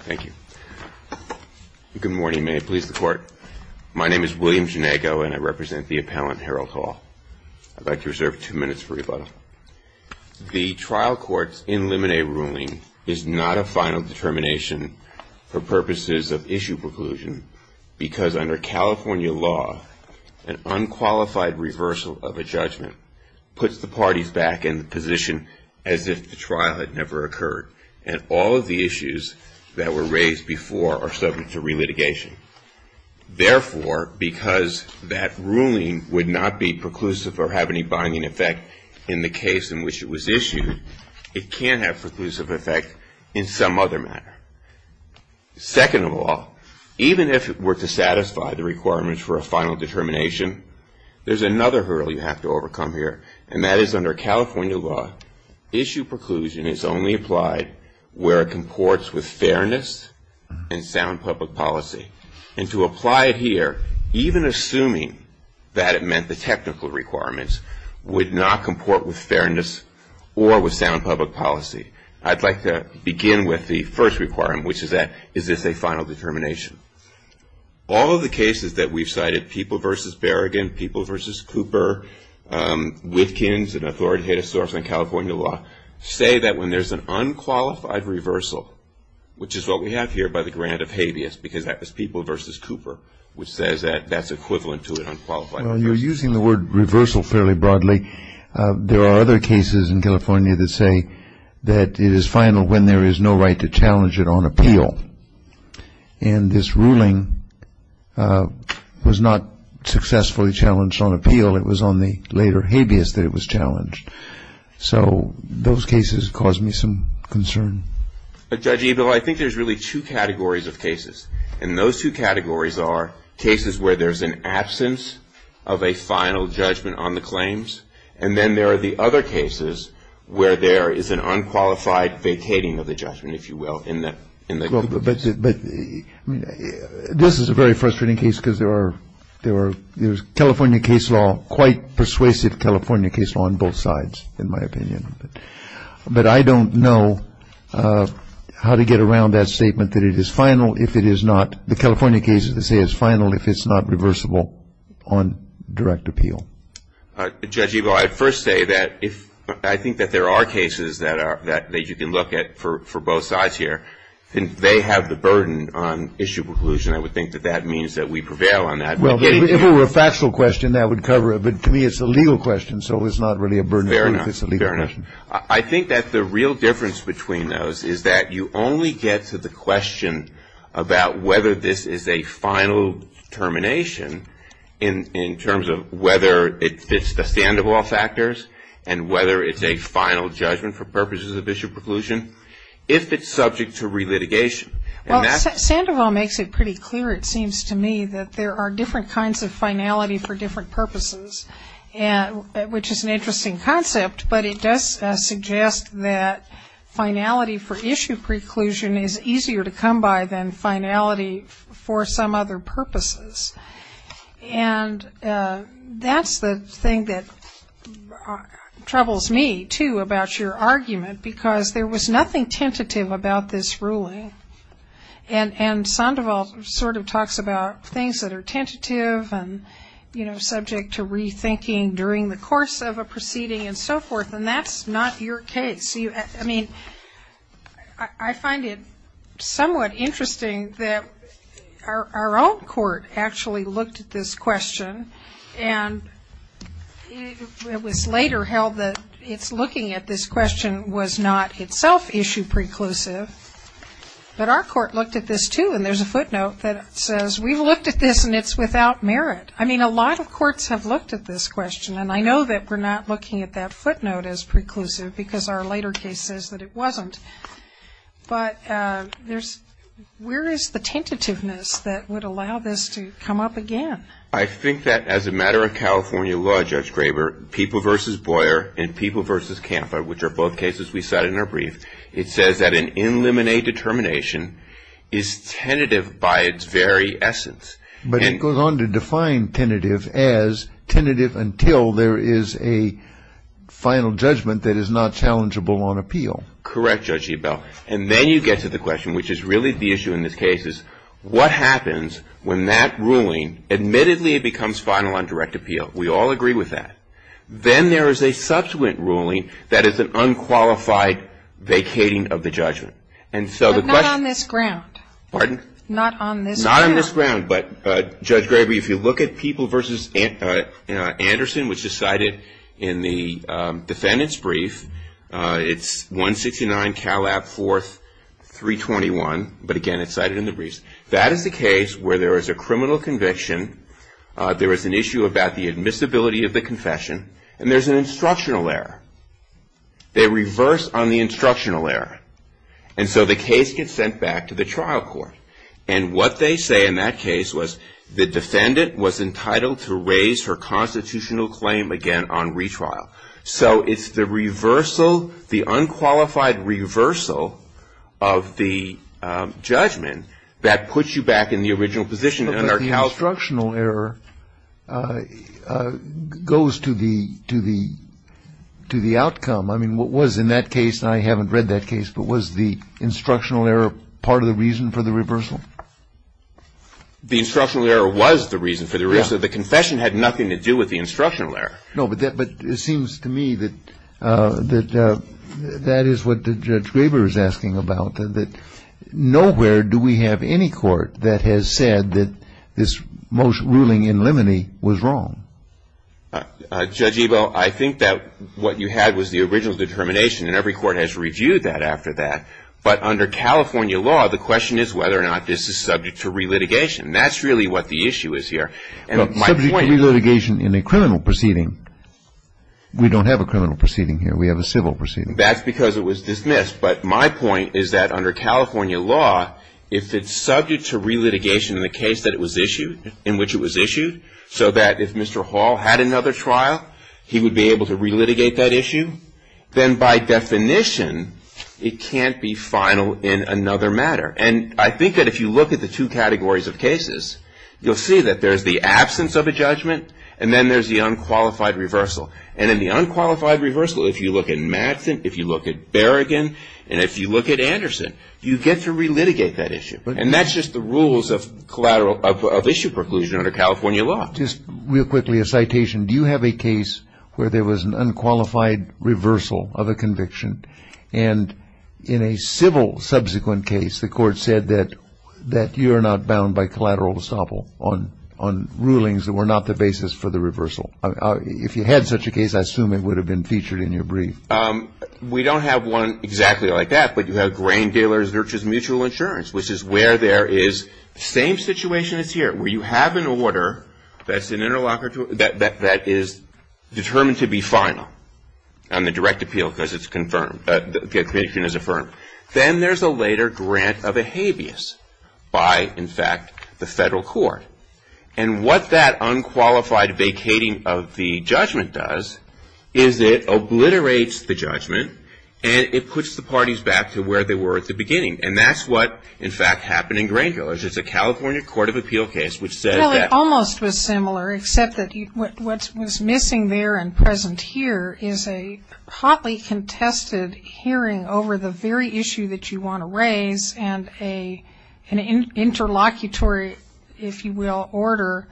Thank you. Good morning. May it please the court. My name is William Janago, and I represent the appellant Harold Hall. I'd like to reserve two minutes for rebuttal. The trial court's in limine ruling is not a final determination for purposes of issue preclusion because under California law, an unqualified reversal of a judgment puts the parties back in the position as if the trial had never occurred. And all of the issues that were raised before are subject to relitigation. Therefore, because that ruling would not be preclusive or have any binding effect in the case in which it was issued, it can have preclusive effect in some other manner. Second of all, even if it were to satisfy the requirements for a final determination, there's another hurdle you have to overcome here, and that is under California law, issue preclusion is only applied where it comports with fairness and sound public policy. And to apply it here, even assuming that it meant the technical requirements, would not comport with fairness or with sound public policy. I'd like to begin with the first requirement, which is that is this a final determination? All of the cases that we've cited, People v. Berrigan, People v. Cooper, Witkins, and Authority of the State of California law, say that when there's an unqualified reversal, which is what we have here by the grant of habeas because that was People v. Cooper, which says that that's equivalent to an unqualified reversal. Well, you're using the word reversal fairly broadly. There are other cases in California that say that it is final when there is no right to challenge it on appeal. And this ruling was not successfully challenged on appeal. It was on the later habeas that it was challenged. So those cases cause me some concern. But Judge Ebel, I think there's really two categories of cases, and those two categories are cases where there's an absence of a final judgment on the claims, and then there are the other cases where there is an unqualified vacating of the judgment, if you will, in the But this is a very frustrating case because there's California case law, quite persuasive California case law on both sides, in my opinion. But I don't know how to get around that statement that it is final if it is not. The California case, they say, is final if it's not reversible on direct appeal. Judge Ebel, I'd first say that I think that there are cases that you can look at for both sides here, and they have the burden on issue preclusion. I would think that that means that we prevail on that. Well, if it were a factual question, that would cover it. But to me, it's a legal question, so it's not really a burden on me if it's a legal question. the Sandoval factors and whether it's a final judgment for purposes of issue preclusion, if it's subject to relitigation. Well, Sandoval makes it pretty clear, it seems to me, that there are different kinds of finality for different purposes, which is an interesting concept, but it does suggest that finality for issue preclusion is easier to come by than finality for some other purposes. And that's the thing that troubles me, too, about your argument, because there was nothing tentative about this ruling, and Sandoval sort of talks about things that are tentative and subject to rethinking during the course of a proceeding and so forth, and that's not your case. I find it somewhat interesting that our own court actually looked at this question, and it was later held that its looking at this question was not itself issue preclusive, but our court looked at this, too, and there's a footnote that says, we've looked at this, and it's without merit. I mean, a lot of courts have looked at this question, and I know that we're not looking at that footnote as preclusive, because our later case says that it wasn't. But where is the tentativeness that would allow this to come up again? I think that as a matter of California law, Judge Graber, people versus Boyer and people versus Canfa, which are both cases we cite in our brief, it says that an in limine determination is tentative by its very essence. But it goes on to define tentative as tentative until there is a final judgment that is not challengeable on appeal. Correct, Judge Ebel. And then you get to the question, which is really the issue in this case, is what happens when that ruling, admittedly it becomes final on direct appeal. We all agree with that. Then there is a subsequent ruling that is an unqualified vacating of the judgment. But not on this ground. Pardon? Not on this ground. But, Judge Graber, if you look at people versus Anderson, which is cited in the defendant's brief, it's 169 Calab 4th, 321. But again, it's cited in the briefs. That is the case where there is a criminal conviction. There is an issue about the admissibility of the confession. And there's an instructional error. They reverse on the instructional error. And so the case gets sent back to the trial court. And what they say in that case was the defendant was entitled to raise her constitutional claim again on retrial. So it's the reversal, the unqualified reversal of the judgment that puts you back in the original position. But the instructional error goes to the outcome. I mean, what was in that case, and I haven't read that case, but was the instructional error part of the reason for the reversal? The instructional error was the reason for the reversal. The confession had nothing to do with the instructional error. No, but it seems to me that that is what Judge Graber is asking about. Nowhere do we have any court that has said that this ruling in limine was wrong. Judge Ebel, I think that what you had was the original determination. And every court has reviewed that after that. But under California law, the question is whether or not this is subject to relitigation. That's really what the issue is here. Subject to relitigation in a criminal proceeding, we don't have a criminal proceeding here. We have a civil proceeding. That's because it was dismissed. But my point is that under California law, if it's subject to relitigation in the case that it was issued, in which it was issued, so that if Mr. Hall had another trial, he would be able to relitigate that issue, then by definition, it can't be final in another matter. And I think that if you look at the two categories of cases, you'll see that there's the absence of a judgment, and then there's the unqualified reversal. And in the unqualified reversal, if you look at Madsen, if you look at Berrigan, and if you look at Anderson, you get to relitigate that issue. And that's just the rules of collateral of issue preclusion under California law. Just real quickly, a citation. Do you have a case where there was an unqualified reversal of a conviction, and in a civil subsequent case, the court said that you're not bound by collateral estoppel on rulings that were not the basis for the reversal? If you had such a case, I assume it would have been featured in your brief. We don't have one exactly like that. But you have grain dealers versus mutual insurance, which is where there is the same situation as here, where you have an order that is determined to be final on the direct appeal because it's confirmed, the conviction is affirmed. Then there's a later grant of a habeas by, in fact, the federal court. And what that unqualified vacating of the judgment does is it obliterates the judgment and it puts the parties back to where they were at the beginning. And that's what, in fact, happened in grain dealers. It's a California court of appeal case which said that. Well, it almost was similar, except that what was missing there and present here is a hotly contested hearing over the very issue that you want to raise and an interlocutory, if you will, order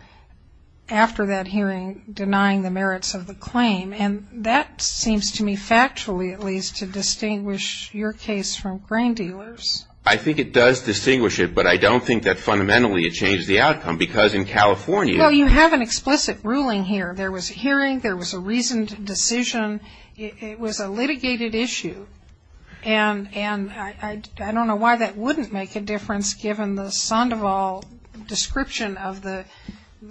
after that hearing, denying the merits of the claim. And that seems to me factually, at least, to distinguish your case from grain dealers. I think it does distinguish it, but I don't think that fundamentally it changed the outcome because in California. Well, you have an explicit ruling here. There was a hearing. There was a reasoned decision. It was a litigated issue. And I don't know why that wouldn't make a difference given the Sandoval description of the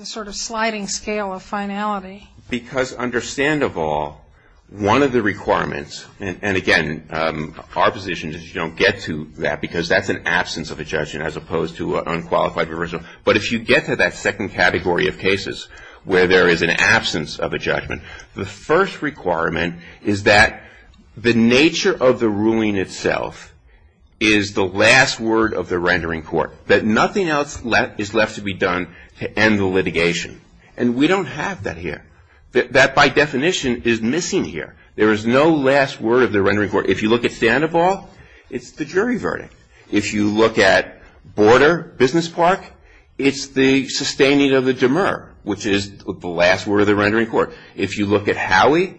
sort of sliding scale of finality. Because under Sandoval, one of the requirements, and again, our position is you don't get to that because that's an absence of a judgment as opposed to unqualified reversal. But if you get to that second category of cases where there is an absence of a judgment, the first requirement is that the nature of the ruling itself is the last word of the rendering court, that nothing else is left to be done to end the litigation. And we don't have that here. That, by definition, is missing here. There is no last word of the rendering court. If you look at Sandoval, it's the jury verdict. If you look at Border Business Park, it's the sustaining of the demur, which is the last word of the rendering court. If you look at Howey,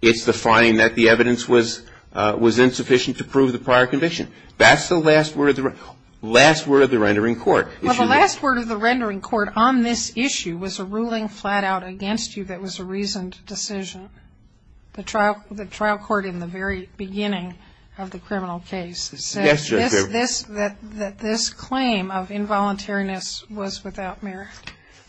it's the finding that the evidence was insufficient to prove the prior condition. That's the last word of the rendering court. Well, the last word of the rendering court on this issue was a ruling flat out against you that was a reasoned decision. The trial court in the very beginning of the criminal case said that this claim of involuntariness was without merit.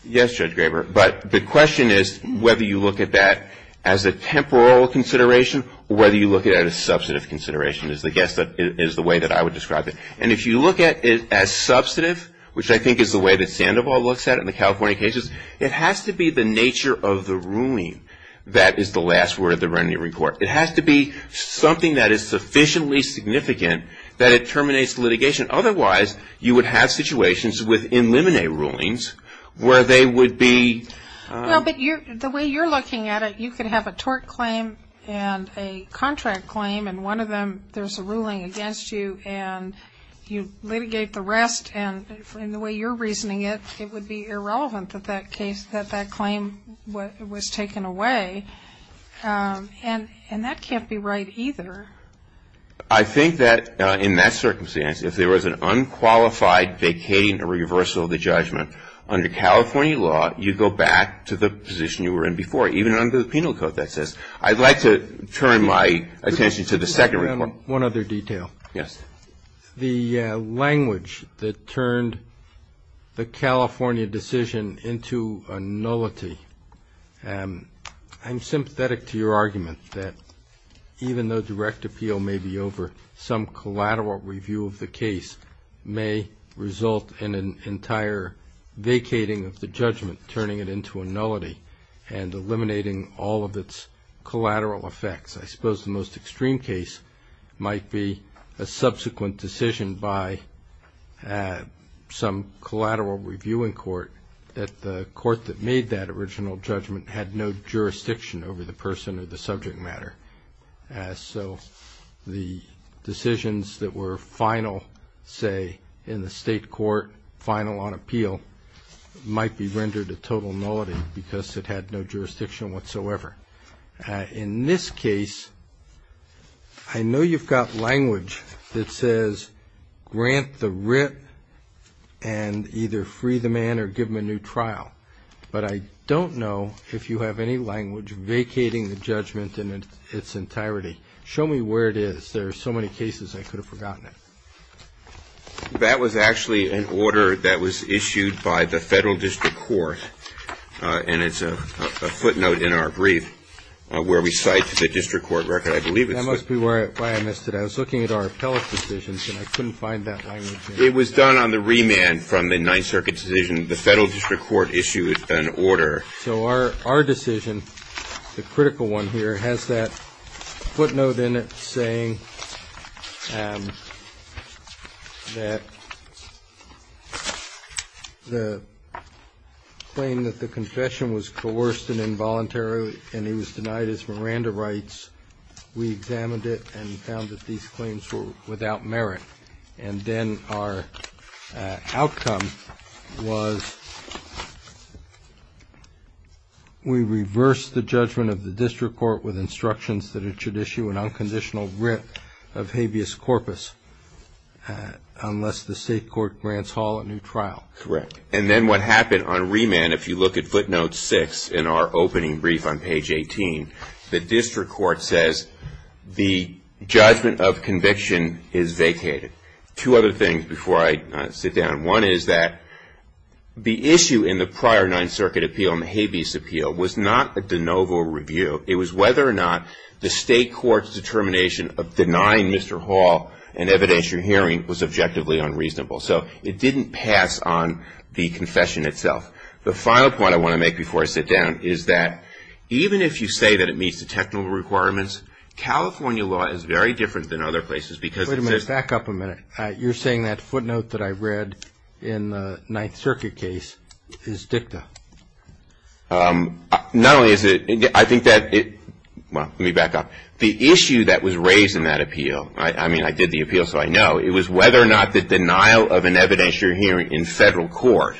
Yes, Judge Graber, but the question is whether you look at that as a temporal consideration or whether you look at it as a substantive consideration, is the way that I would describe it. And if you look at it as substantive, which I think is the way that Sandoval looks at it in the California cases, it has to be the nature of the ruling that is the last word of the rendering court. It has to be something that is sufficiently significant that it terminates litigation. Otherwise, you would have situations with in limine rulings where they would be... Well, but the way you're looking at it, you could have a tort claim and a contract claim, and one of them there's a ruling against you and you litigate the rest. And in the way you're reasoning it, it would be irrelevant that that case, that that claim was taken away. And that can't be right either. I think that in that circumstance, if there was an unqualified vacating or reversal of the judgment under California law, you go back to the position you were in before, even under the penal code that says. I'd like to turn my attention to the second report. One other detail. Yes. The language that turned the California decision into a nullity, I'm sympathetic to your argument that even though direct appeal may be over, some collateral review of the case may result in an entire vacating of the judgment, turning it into a nullity and eliminating all of its collateral effects. I suppose the most extreme case might be a subsequent decision by some collateral reviewing court that the court that made that original judgment had no jurisdiction over the person or the subject matter. So the decisions that were final, say, in the state court, final on appeal, might be rendered a total nullity because it had no jurisdiction whatsoever. In this case, I know you've got language that says, grant the writ and either free the man or give him a new trial. But I don't know if you have any language vacating the judgment in its entirety. Show me where it is. There are so many cases I could have forgotten it. That was actually an order that was issued by the Federal District Court, and it's a footnote in our brief where we cite the district court record, I believe. That must be why I missed it. I was looking at our appellate decisions, and I couldn't find that language. It was done on the remand from the Ninth Circuit decision. The Federal District Court issued an order. So our decision, the critical one here, has that footnote in it saying that the claim that the confession was coerced and involuntary and he was denied his Miranda rights, we examined it and found that these claims were without merit. And then our outcome was we reversed the judgment of the district court with instructions that it should issue an unconditional writ of habeas corpus unless the state court grants Hall a new trial. Correct. And then what happened on remand, if you look at footnote six in our opening brief on page 18, the district court says the judgment of conviction is vacated. Two other things before I sit down. One is that the issue in the prior Ninth Circuit appeal and the habeas appeal was not a de novo review. It was whether or not the state court's determination of denying Mr. Hall an evidentiary hearing was objectively unreasonable. So it didn't pass on the confession itself. The final point I want to make before I sit down is that even if you say that it meets the technical requirements, California law is very different than other places because it says Wait a minute, back up a minute. You're saying that footnote that I read in the Ninth Circuit case is dicta. Not only is it, I think that it, well, let me back up. The issue that was raised in that appeal, I mean I did the appeal so I know, it was whether or not the denial of an evidentiary hearing in federal court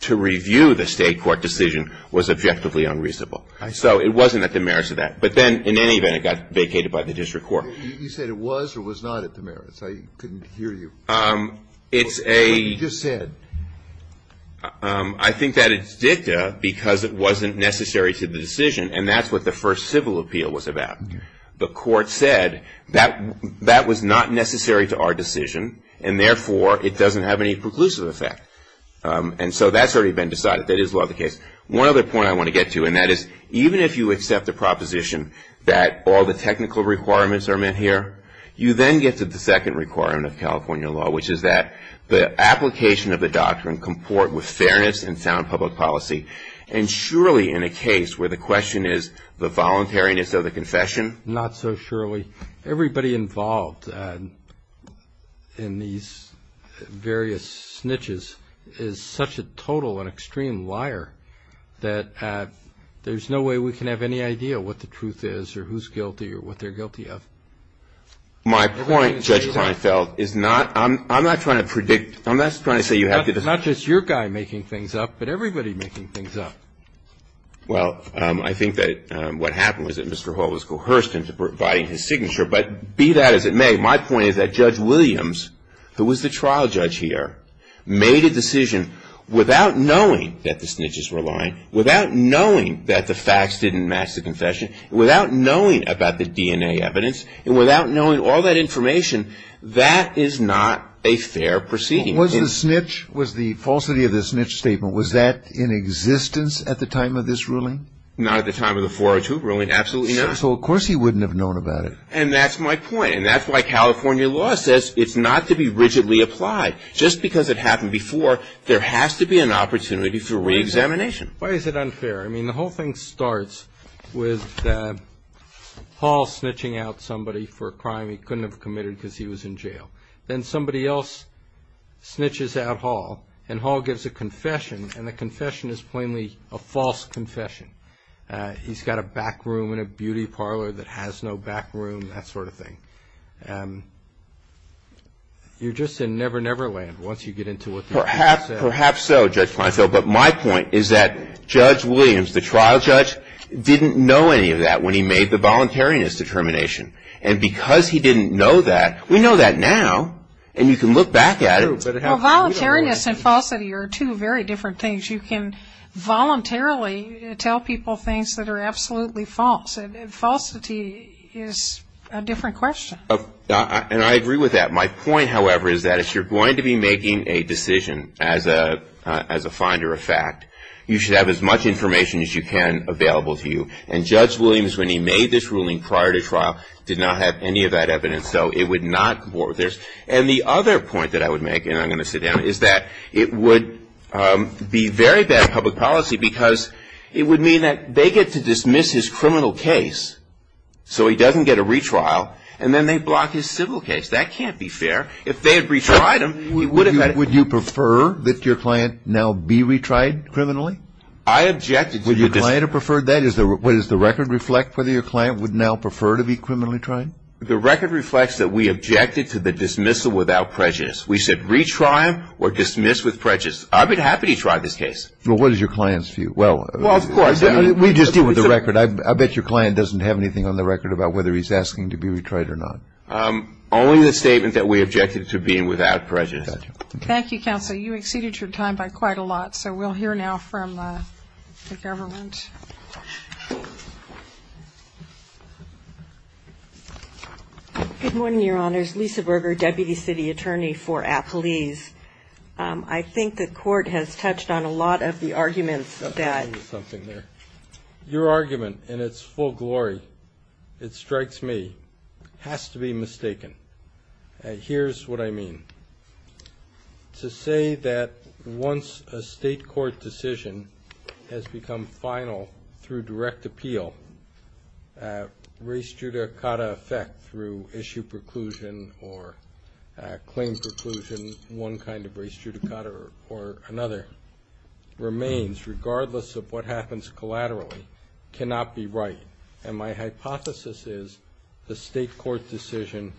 to review the state court decision was objectively unreasonable. So it wasn't at the merits of that. But then in any event it got vacated by the district court. You said it was or was not at the merits. I couldn't hear you. It's a. You just said. I think that it's dicta because it wasn't necessary to the decision and that's what the first civil appeal was about. The court said that that was not necessary to our decision and therefore it doesn't have any preclusive effect. And so that's already been decided. That is law of the case. One other point I want to get to and that is even if you accept the proposition that all the technical requirements are met here, you then get to the second requirement of California law, which is that the application of the doctrine comport with fairness and sound public policy. And surely in a case where the question is the voluntariness of the confession. Not so surely. Everybody involved in these various snitches is such a total and extreme liar that there's no way we can have any idea what the truth is or who's guilty or what they're guilty of. My point, Judge Kleinfeld, is not. I'm not trying to predict. I'm not trying to say you have to. It's not just your guy making things up, but everybody making things up. Well, I think that what happened was that Mr. Hall was coerced into providing his signature, but be that as it may, my point is that Judge Williams, who was the trial judge here, made a decision without knowing that the snitches were lying, without knowing that the facts didn't match the confession, without knowing about the DNA evidence, and without knowing all that information. That is not a fair proceeding. Was the snitch, was the falsity of the snitch statement, was that in existence at the time of this ruling? Not at the time of the 402 ruling. Absolutely not. So of course he wouldn't have known about it. And that's my point. And that's why California law says it's not to be rigidly applied. Just because it happened before, there has to be an opportunity for reexamination. Why is it unfair? I mean, the whole thing starts with Hall snitching out somebody for a crime he couldn't have committed because he was in jail. Then somebody else snitches out Hall, and Hall gives a confession, and the confession is plainly a false confession. He's got a back room in a beauty parlor that has no back room, that sort of thing. You're just in Never Never Land once you get into it. Perhaps so, Judge Kleinfeld. But my point is that Judge Williams, the trial judge, didn't know any of that when he made the voluntariness determination. And because he didn't know that, we know that now, and you can look back at it. Well, voluntariness and falsity are two very different things. You can voluntarily tell people things that are absolutely false. And falsity is a different question. And I agree with that. My point, however, is that if you're going to be making a decision as a finder of fact, you should have as much information as you can available to you. And Judge Williams, when he made this ruling prior to trial, did not have any of that evidence, so it would not warrant this. And the other point that I would make, and I'm going to sit down, is that it would be very bad public policy because it would mean that they get to dismiss his criminal case so he doesn't get a retrial, and then they block his civil case. That can't be fair. If they had retried him, he would have had it. Would you prefer that your client now be retried criminally? I objected to the client. Would you have preferred that? Does the record reflect whether your client would now prefer to be criminally tried? The record reflects that we objected to the dismissal without prejudice. We said retry him or dismiss with prejudice. I'd be happy to try this case. Well, what is your client's view? Well, we just deal with the record. I bet your client doesn't have anything on the record about whether he's asking to be retried or not. Only the statement that we objected to being without prejudice. Thank you, counsel. You exceeded your time by quite a lot. So we'll hear now from the government. Good morning, Your Honors. Lisa Berger, Deputy City Attorney for Appalese. I think the court has touched on a lot of the arguments that ---- Something there. Your argument in its full glory, it strikes me, has to be mistaken. Here's what I mean. To say that once a state court decision has become final through direct appeal, race judicata effect through issue preclusion or claim preclusion, one kind of race judicata or another, remains, regardless of what happens collaterally, cannot be right. And my hypothesis is the state court decision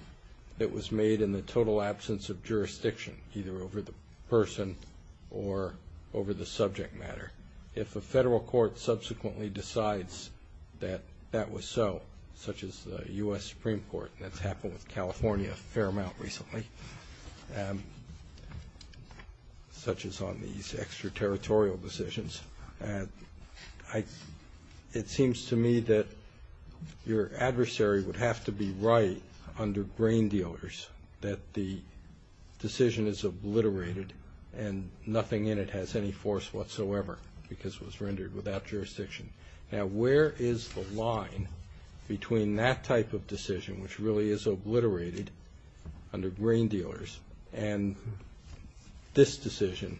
that was made in the total absence of jurisdiction, either over the person or over the subject matter, if a federal court subsequently decides that that was so, such as the U.S. Supreme Court, that's happened with California a fair amount recently, such as on these extraterritorial decisions, it seems to me that your adversary would have to be right under grain dealers, that the decision is obliterated and nothing in it has any force whatsoever because it was rendered without jurisdiction. Now, where is the line between that type of decision, which really is obliterated, under grain dealers, and this decision,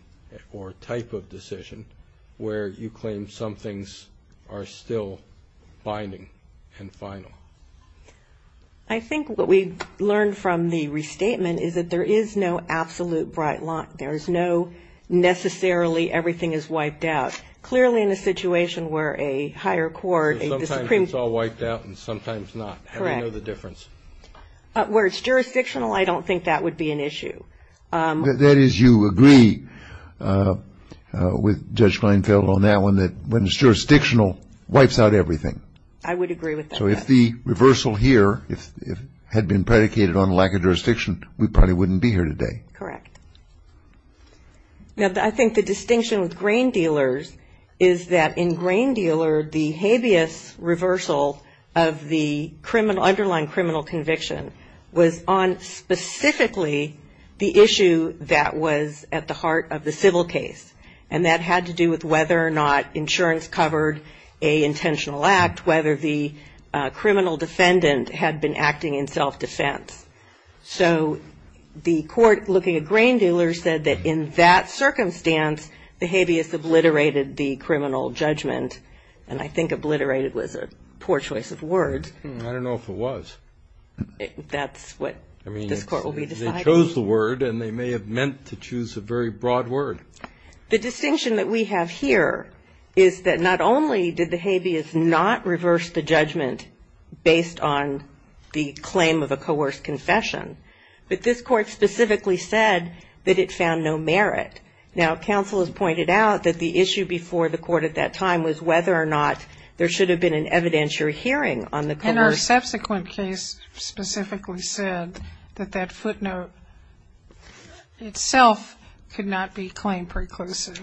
or type of decision, where you claim some things are still binding and final? I think what we learned from the restatement is that there is no absolute bright light. There is no necessarily everything is wiped out. Clearly in a situation where a higher court, a Supreme Court. Sometimes it's all wiped out and sometimes not. Correct. We know the difference. Where it's jurisdictional, I don't think that would be an issue. That is, you agree with Judge Kleinfeld on that one, that when it's jurisdictional, wipes out everything. I would agree with that. So if the reversal here had been predicated on lack of jurisdiction, we probably wouldn't be here today. Correct. Now, I think the distinction with grain dealers is that in grain dealer, the habeas reversal of the criminal, underlying criminal conviction was on specifically the issue that was at the heart of the civil case. And that had to do with whether or not insurance covered a intentional act, whether the criminal defendant had been acting in self-defense. So the court looking at grain dealers said that in that circumstance, the habeas obliterated the criminal judgment. And I think obliterated was a poor choice of words. I don't know if it was. That's what this Court will be deciding. I mean, they chose the word and they may have meant to choose a very broad word. The distinction that we have here is that not only did the habeas not reverse the judgment based on the claim of a coerced confession, but this Court specifically said that it found no merit. Now, counsel has pointed out that the issue before the Court at that time was whether or not there should have been an evidentiary hearing on the coerced. And our subsequent case specifically said that that footnote itself could not be claim preclusive.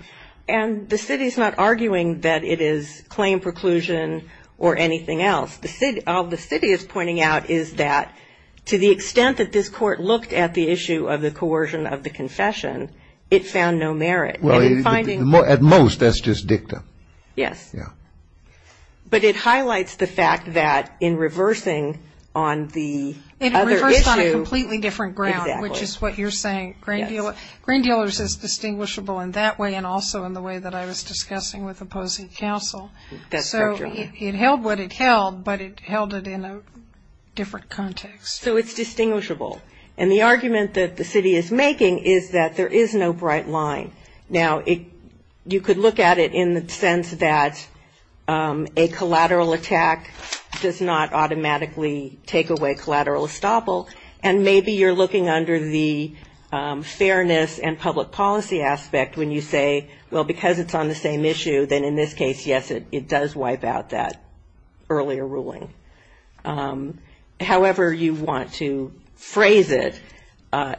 And the city is not arguing that it is claim preclusion or anything else. All the city is pointing out is that to the extent that this Court looked at the issue of the coercion of the confession, it found no merit. And in finding the most. At most, that's just dictum. Yes. Yeah. But it highlights the fact that in reversing on the other issue. It reversed on a completely different ground, which is what you're saying. Yes. Grain dealers is distinguishable in that way and also in the way that I was discussing with opposing counsel. That's correct, Your Honor. It held what it held, but it held it in a different context. So it's distinguishable. And the argument that the city is making is that there is no bright line. Now, you could look at it in the sense that a collateral attack does not automatically take away collateral estoppel. And maybe you're looking under the fairness and public policy aspect when you say, well, because it's on the same issue, then in this case, yes, it does wipe out that earlier ruling. However you want to phrase it,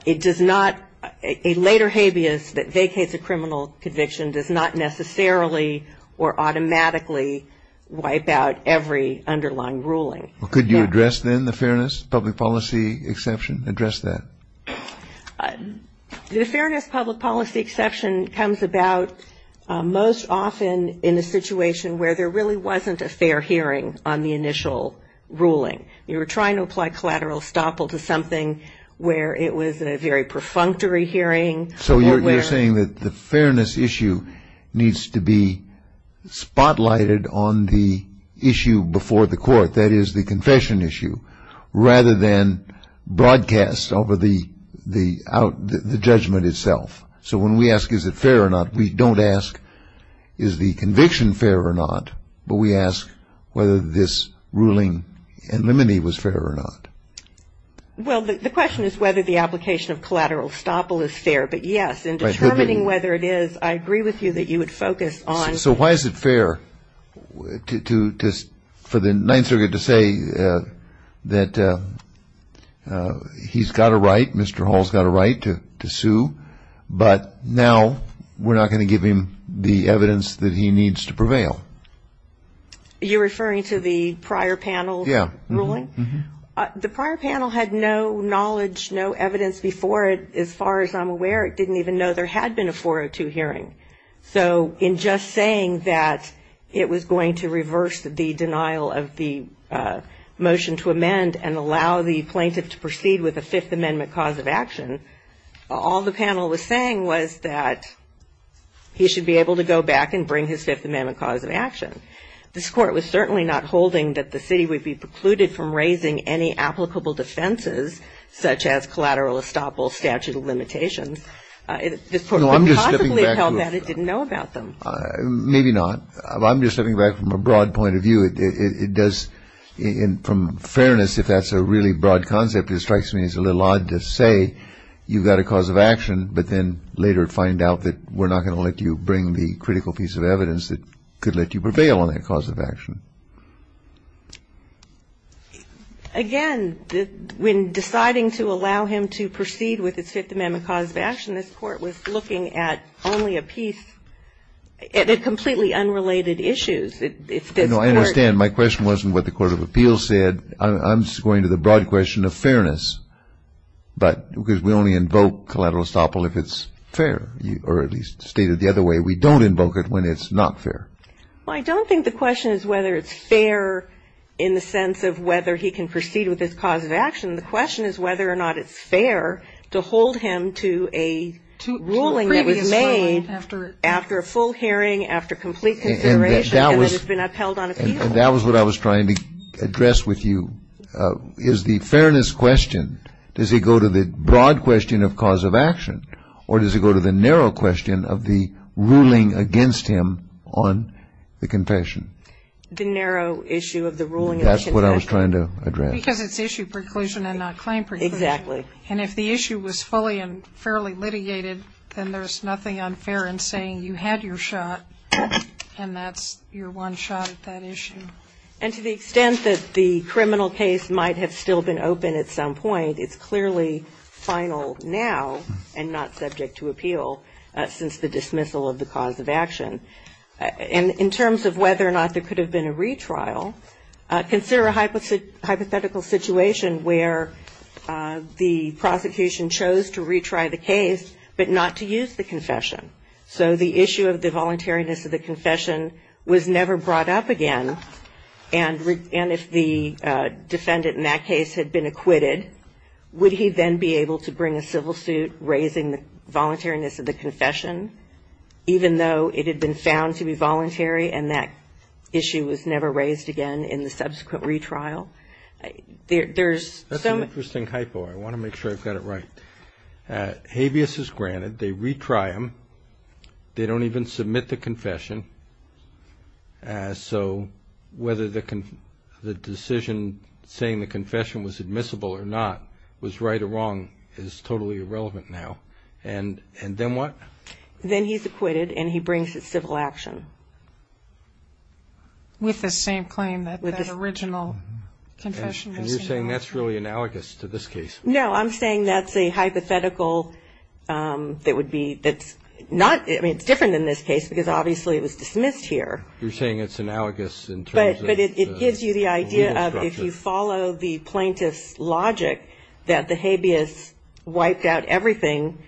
it does not, a later habeas that vacates a criminal conviction does not necessarily or automatically wipe out every underlying ruling. Could you address then the fairness, public policy exception? Address that. The fairness, public policy exception comes about most often in a situation where there really wasn't a fair hearing on the initial ruling. You were trying to apply collateral estoppel to something where it was a very perfunctory hearing. So you're saying that the fairness issue needs to be spotlighted on the issue before the court, that is the confession issue, rather than broadcast over the judgment itself. So when we ask is it fair or not, we don't ask is the conviction fair or not, but we ask whether this ruling in limine was fair or not. Well, the question is whether the application of collateral estoppel is fair. But, yes, in determining whether it is, I agree with you that you would focus on. So why is it fair for the Ninth Circuit to say that he's got a right, Mr. Hall's got a right to sue, but now we're not going to give him the evidence that he needs to prevail? You're referring to the prior panel's ruling? Yes. The prior panel had no knowledge, no evidence before it, as far as I'm aware. It didn't even know there had been a 402 hearing. So in just saying that it was going to reverse the denial of the motion to amend and allow the plaintiff to proceed with a Fifth Amendment cause of action, all the panel was saying was that he should be able to go back and bring his Fifth Amendment cause of action. This Court was certainly not holding that the city would be precluded from raising any applicable defenses such as collateral estoppel statute of limitations. This Court could possibly have held that it didn't know about them. Maybe not. I'm just stepping back from a broad point of view. It does, from fairness, if that's a really broad concept, it strikes me as a little odd to say you've got a cause of action, but then later find out that we're not going to let you bring the critical piece of evidence that could let you prevail on that cause of action. Again, when deciding to allow him to proceed with his Fifth Amendment cause of action, this Court was looking at only a piece of completely unrelated issues. If this Court ---- No, I understand. My question wasn't what the court of appeals said. I'm just going to the broad question of fairness, but because we only invoke collateral estoppel if it's fair, or at least stated the other way, we don't invoke it when it's not fair. Well, I don't think the question is whether it's fair in the sense of whether he can proceed with his cause of action. The question is whether or not it's fair to hold him to a ruling that was made after a full hearing, after complete consideration, and then it's been upheld on appeal. And that was what I was trying to address with you. Is the fairness question, does it go to the broad question of cause of action, or does it go to the narrow issue of the ruling of confession? That's what I was trying to address. Because it's issue preclusion and not claim preclusion. Exactly. And if the issue was fully and fairly litigated, then there's nothing unfair in saying you had your shot, and that's your one shot at that issue. And to the extent that the criminal case might have still been open at some point, it's clearly final now and not subject to appeal since the dismissal of the cause of action. And in terms of whether or not there could have been a retrial, consider a hypothetical situation where the prosecution chose to retry the case but not to use the confession. So the issue of the voluntariness of the confession was never brought up again, and if the defendant in that case had been acquitted, would he then be able to bring a civil suit raising the voluntariness of the confession, even though it had been found to be voluntary and that issue was never raised again in the subsequent retrial? That's an interesting hypo. I want to make sure I've got it right. Habeas is granted. They retry him. They don't even submit the confession. So whether the decision saying the confession was admissible or not, was right or wrong, is totally irrelevant now. And then what? Then he's acquitted and he brings his civil action. With the same claim that the original confession was. And you're saying that's really analogous to this case? No, I'm saying that's a hypothetical that would be, that's not, I mean, it's different than this case because obviously it was dismissed here. You're saying it's analogous in terms of. But it gives you the idea of if you follow the plaintiff's logic, that the habeas wiped out everything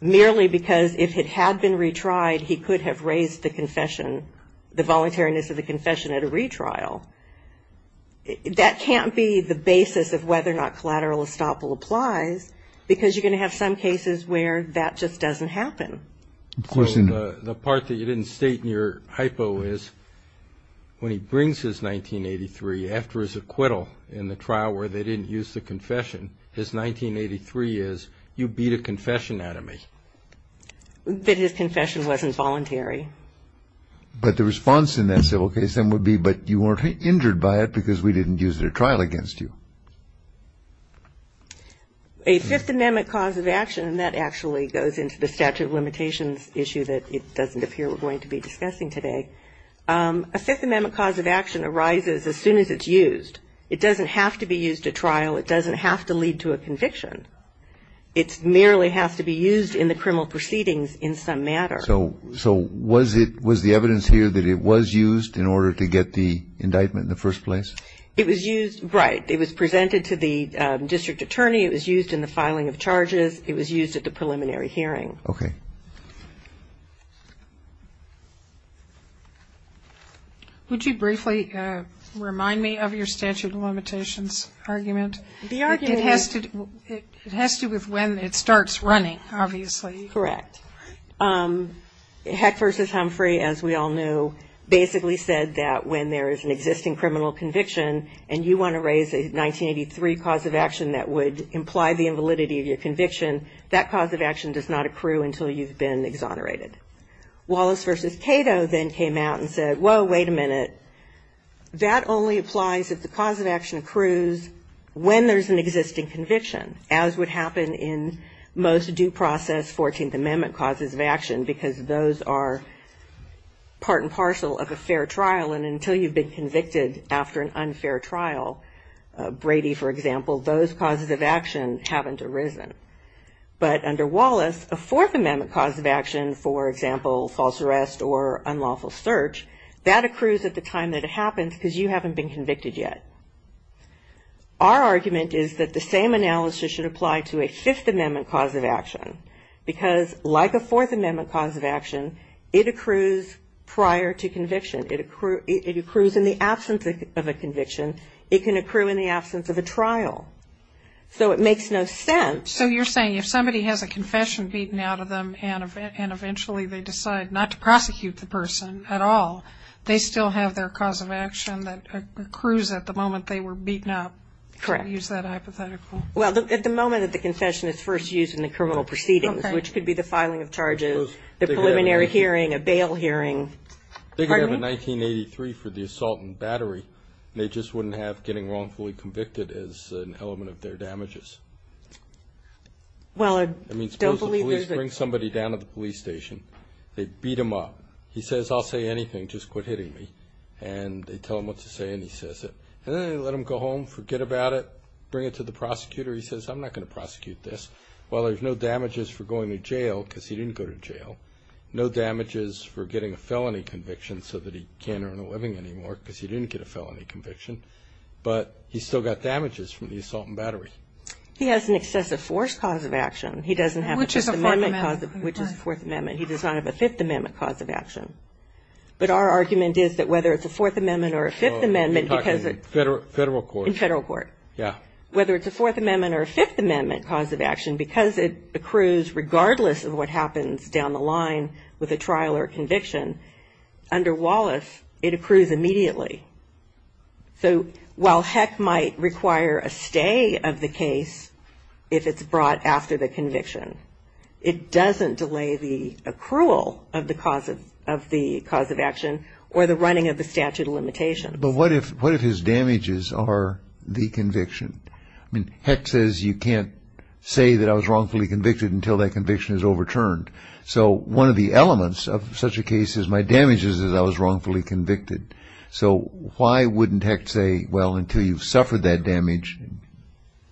merely because if it had been retried, he could have raised the confession, the voluntariness of the confession at a retrial. That can't be the basis of whether or not collateral estoppel applies, because you're going to have some cases where that just doesn't happen. The part that you didn't state in your hypo is when he brings his 1983, after his acquittal in the trial where they didn't use the confession. His 1983 is, you beat a confession out of me. That his confession wasn't voluntary. But the response in that civil case then would be, but you weren't injured by it because we didn't use it at trial against you. A Fifth Amendment cause of action, and that actually goes into the statute of limitations issue that it doesn't appear we're going to be discussing today. A Fifth Amendment cause of action arises as soon as it's used. It doesn't have to be used at trial. It doesn't have to lead to a conviction. It merely has to be used in the criminal proceedings in some matter. So was the evidence here that it was used in order to get the indictment in the first place? It was used, right. It was presented to the district attorney. It was used in the filing of charges. It was used at the preliminary hearing. Okay. Would you briefly remind me of your statute of limitations argument? The argument is. It has to do with when it starts running, obviously. Correct. Heck versus Humphrey, as we all knew, basically said that when there is an existing criminal conviction and you want to raise a 1983 cause of action that would imply the invalidity of your conviction, that cause of action does not accrue until you've been exonerated. Wallace versus Cato then came out and said, whoa, wait a minute. That only applies if the cause of action accrues when there's an existing conviction, as would happen in most due process 14th Amendment causes of action, because those are part and parcel of a fair trial, and until you've been convicted after an unfair trial, Brady, for example, those causes of action haven't arisen. But under Wallace, a 4th Amendment cause of action, for example, false arrest or unlawful search, that accrues at the time that it happens because you haven't been convicted yet. Our argument is that the same analysis should apply to a 5th Amendment cause of action, because like a 4th Amendment cause of action, it accrues prior to conviction. It accrues in the absence of a conviction. It can accrue in the absence of a trial. So it makes no sense. So you're saying if somebody has a confession beaten out of them and eventually they decide not to prosecute the person at all, they still have their cause of action that accrues at the moment they were beaten up? Correct. I use that hypothetical. Well, at the moment that the confession is first used in the criminal proceedings, which could be the filing of charges, the preliminary hearing, a bail hearing. They could have a 1983 for the assault and battery, and they just wouldn't have getting wrongfully convicted as an element of their damages. Well, I don't believe there's a – I mean, suppose the police bring somebody down to the police station. They beat him up. He says, I'll say anything, just quit hitting me. And they tell him what to say, and he says it. And then they let him go home, forget about it, bring it to the prosecutor. He says, I'm not going to prosecute this. Well, there's no damages for going to jail because he didn't go to jail, no damages for getting a felony conviction so that he can't earn a living anymore because he didn't get a felony conviction. But he's still got damages from the assault and battery. He has an excessive force cause of action. He doesn't have a Fourth Amendment. Which is a Fourth Amendment. Which is a Fourth Amendment. He does not have a Fifth Amendment cause of action. But our argument is that whether it's a Fourth Amendment or a Fifth Amendment, because it – You're talking federal court. In federal court. Yeah. Whether it's a Fourth Amendment or a Fifth Amendment cause of action, because it accrues regardless of what happens down the line with a trial or conviction, under Wallace, it accrues immediately. So while Heck might require a stay of the case if it's brought after the conviction, it doesn't delay the accrual of the cause of action or the running of the statute of limitations. But what if his damages are the conviction? I mean, Heck says you can't say that I was wrongfully convicted until that conviction is overturned. So one of the elements of such a case is my damages is I was wrongfully convicted. So why wouldn't Heck say, well, until you've suffered that damage,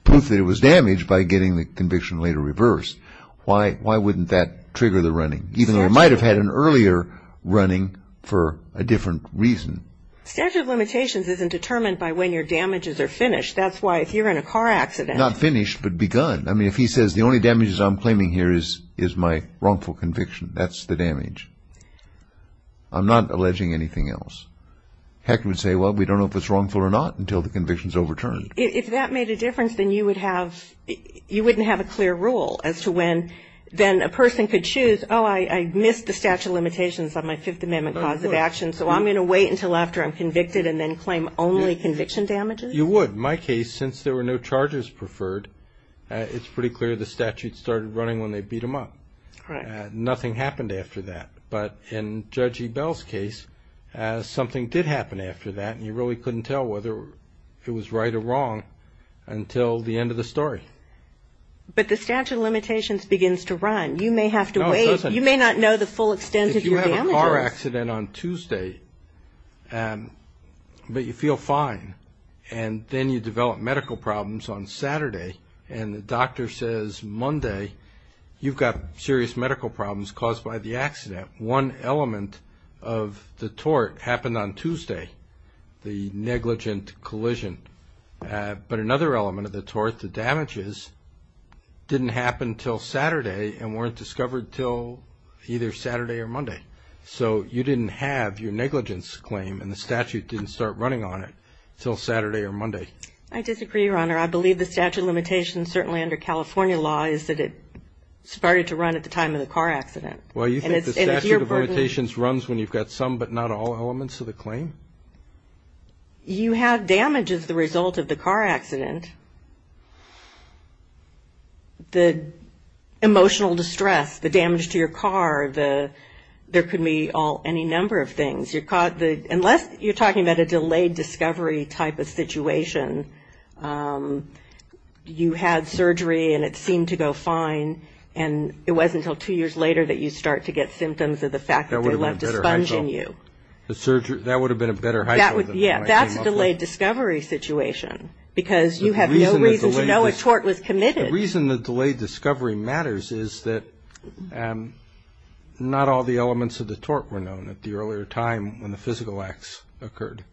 prove that it was damaged by getting the conviction later reversed. Why wouldn't that trigger the running? Even though he might have had an earlier running for a different reason. Statute of limitations isn't determined by when your damages are finished. That's why if you're in a car accident – Not finished, but begun. I mean, if he says the only damages I'm claiming here is my wrongful conviction, that's the damage. I'm not alleging anything else. Heck would say, well, we don't know if it's wrongful or not until the conviction is overturned. If that made a difference, then you wouldn't have a clear rule as to when then a person could choose, oh, I missed the statute of limitations on my Fifth Amendment cause of action, so I'm going to wait until after I'm convicted and then claim only conviction damages? You would. In my case, since there were no charges preferred, it's pretty clear the statute started running when they beat him up. Nothing happened after that. But in Judge Ebell's case, something did happen after that, and you really couldn't tell whether it was right or wrong until the end of the story. But the statute of limitations begins to run. You may have to wait. No, it doesn't. You may not know the full extent of your damages. You have a car accident on Tuesday, but you feel fine, and then you develop medical problems on Saturday, and the doctor says Monday you've got serious medical problems caused by the accident. One element of the tort happened on Tuesday, the negligent collision. But another element of the tort, the damages, didn't happen until Saturday and weren't discovered until either Saturday or Monday. So you didn't have your negligence claim, and the statute didn't start running on it until Saturday or Monday. I disagree, Your Honor. I believe the statute of limitations, certainly under California law, is that it started to run at the time of the car accident. Well, you think the statute of limitations runs when you've got some but not all elements of the claim? You have damages the result of the car accident. The emotional distress, the damage to your car, there could be any number of things. Unless you're talking about a delayed discovery type of situation, you had surgery and it seemed to go fine, and it wasn't until two years later that you start to get symptoms of the fact that they left a sponge in you. That would have been a better heist. Yeah, that's a delayed discovery situation, because you have no reason to know a tort was committed. The reason the delayed discovery matters is that not all the elements of the tort were known at the earlier time when the physical acts occurred.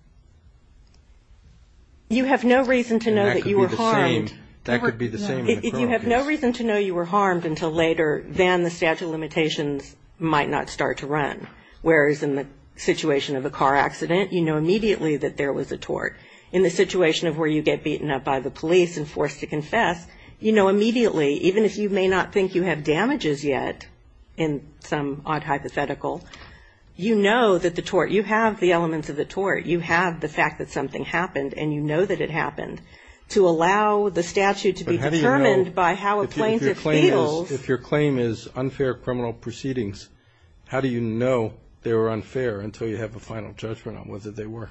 You have no reason to know that you were harmed. That could be the same in the current case. You have no reason to know you were harmed until later than the statute of limitations might not start to run, whereas in the situation of a car accident, you know immediately that there was a tort. In the situation of where you get beaten up by the police and forced to confess, you know immediately, even if you may not think you have damages yet in some odd hypothetical, you know that the tort, you have the elements of the tort, you have the fact that something happened and you know that it happened. To allow the statute to be determined by how a plaintiff feels. If your claim is unfair criminal proceedings, how do you know they were unfair until you have a final judgment on whether they were?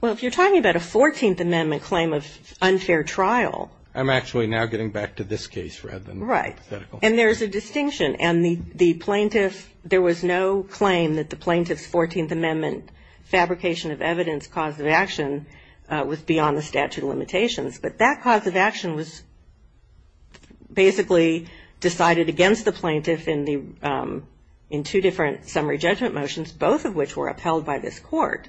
Well, if you're talking about a 14th Amendment claim of unfair trial. I'm actually now getting back to this case rather than hypothetical. Right. And there's a distinction. And the plaintiff, there was no claim that the plaintiff's 14th Amendment fabrication of evidence cause of action was beyond the statute of limitations. But that cause of action was basically decided against the plaintiff in two different summary judgment motions, both of which were upheld by this court.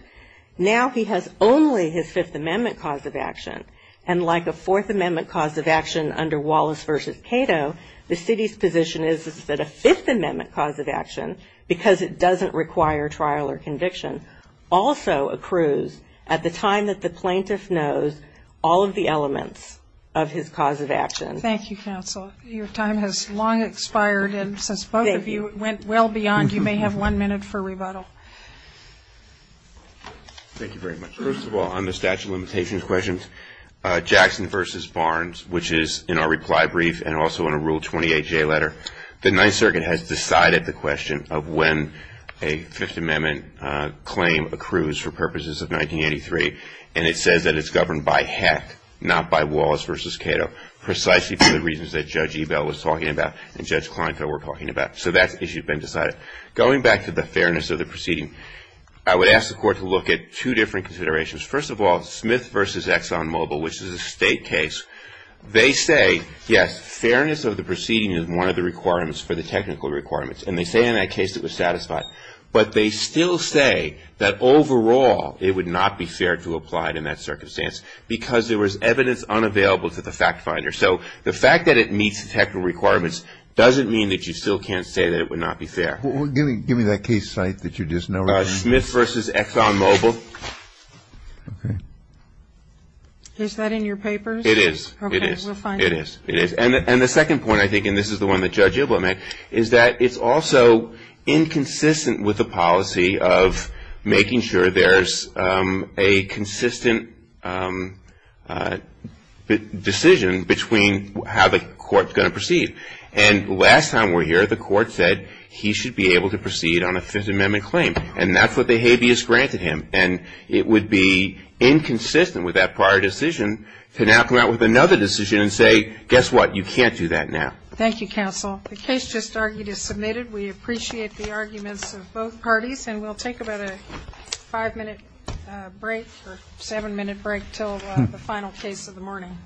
Now he has only his Fifth Amendment cause of action. And like a Fourth Amendment cause of action under Wallace v. Cato, the city's position is that a Fifth Amendment cause of action, because it doesn't require trial or conviction, also accrues at the time that the plaintiff knows all of the elements of his cause of action. Thank you, counsel. Your time has long expired. And since both of you went well beyond, you may have one minute for rebuttal. Thank you very much. First of all, on the statute of limitations questions, Jackson v. Barnes, which is in our reply brief and also in a Rule 28J letter, the Ninth Circuit has decided the question of when a Fifth Amendment claim accrues for purposes of 1983. And it says that it's governed by Heck, not by Wallace v. Cato, precisely for the reasons that Judge Ebell was talking about and Judge Kleinfeld were talking about. So that issue has been decided. Going back to the fairness of the proceeding, I would ask the Court to look at two different considerations. First of all, Smith v. ExxonMobil, which is a State case, they say, yes, fairness of the proceeding is one of the requirements for the technical requirements. And they say in that case it was satisfied. But they still say that overall it would not be fair to apply it in that circumstance because there was evidence unavailable to the fact finder. So the fact that it meets the technical requirements doesn't mean that you still can't say that it would not be fair. Give me that case site that you just noted. Smith v. ExxonMobil. Okay. Is that in your papers? It is. Okay. We'll find it. It is. It is. And the second point, I think, and this is the one that Judge Ebell made, is that it's also inconsistent with the policy of making sure there's a consistent decision between how the Court is going to proceed. And last time we were here, the Court said he should be able to proceed on a Fifth Amendment claim. And that's what the habeas granted him. And it would be inconsistent with that prior decision to now come out with another decision and say, guess what, you can't do that now. Thank you, counsel. The case just argued is submitted. We appreciate the arguments of both parties. And we'll take about a five-minute break or seven-minute break until the final case of the morning.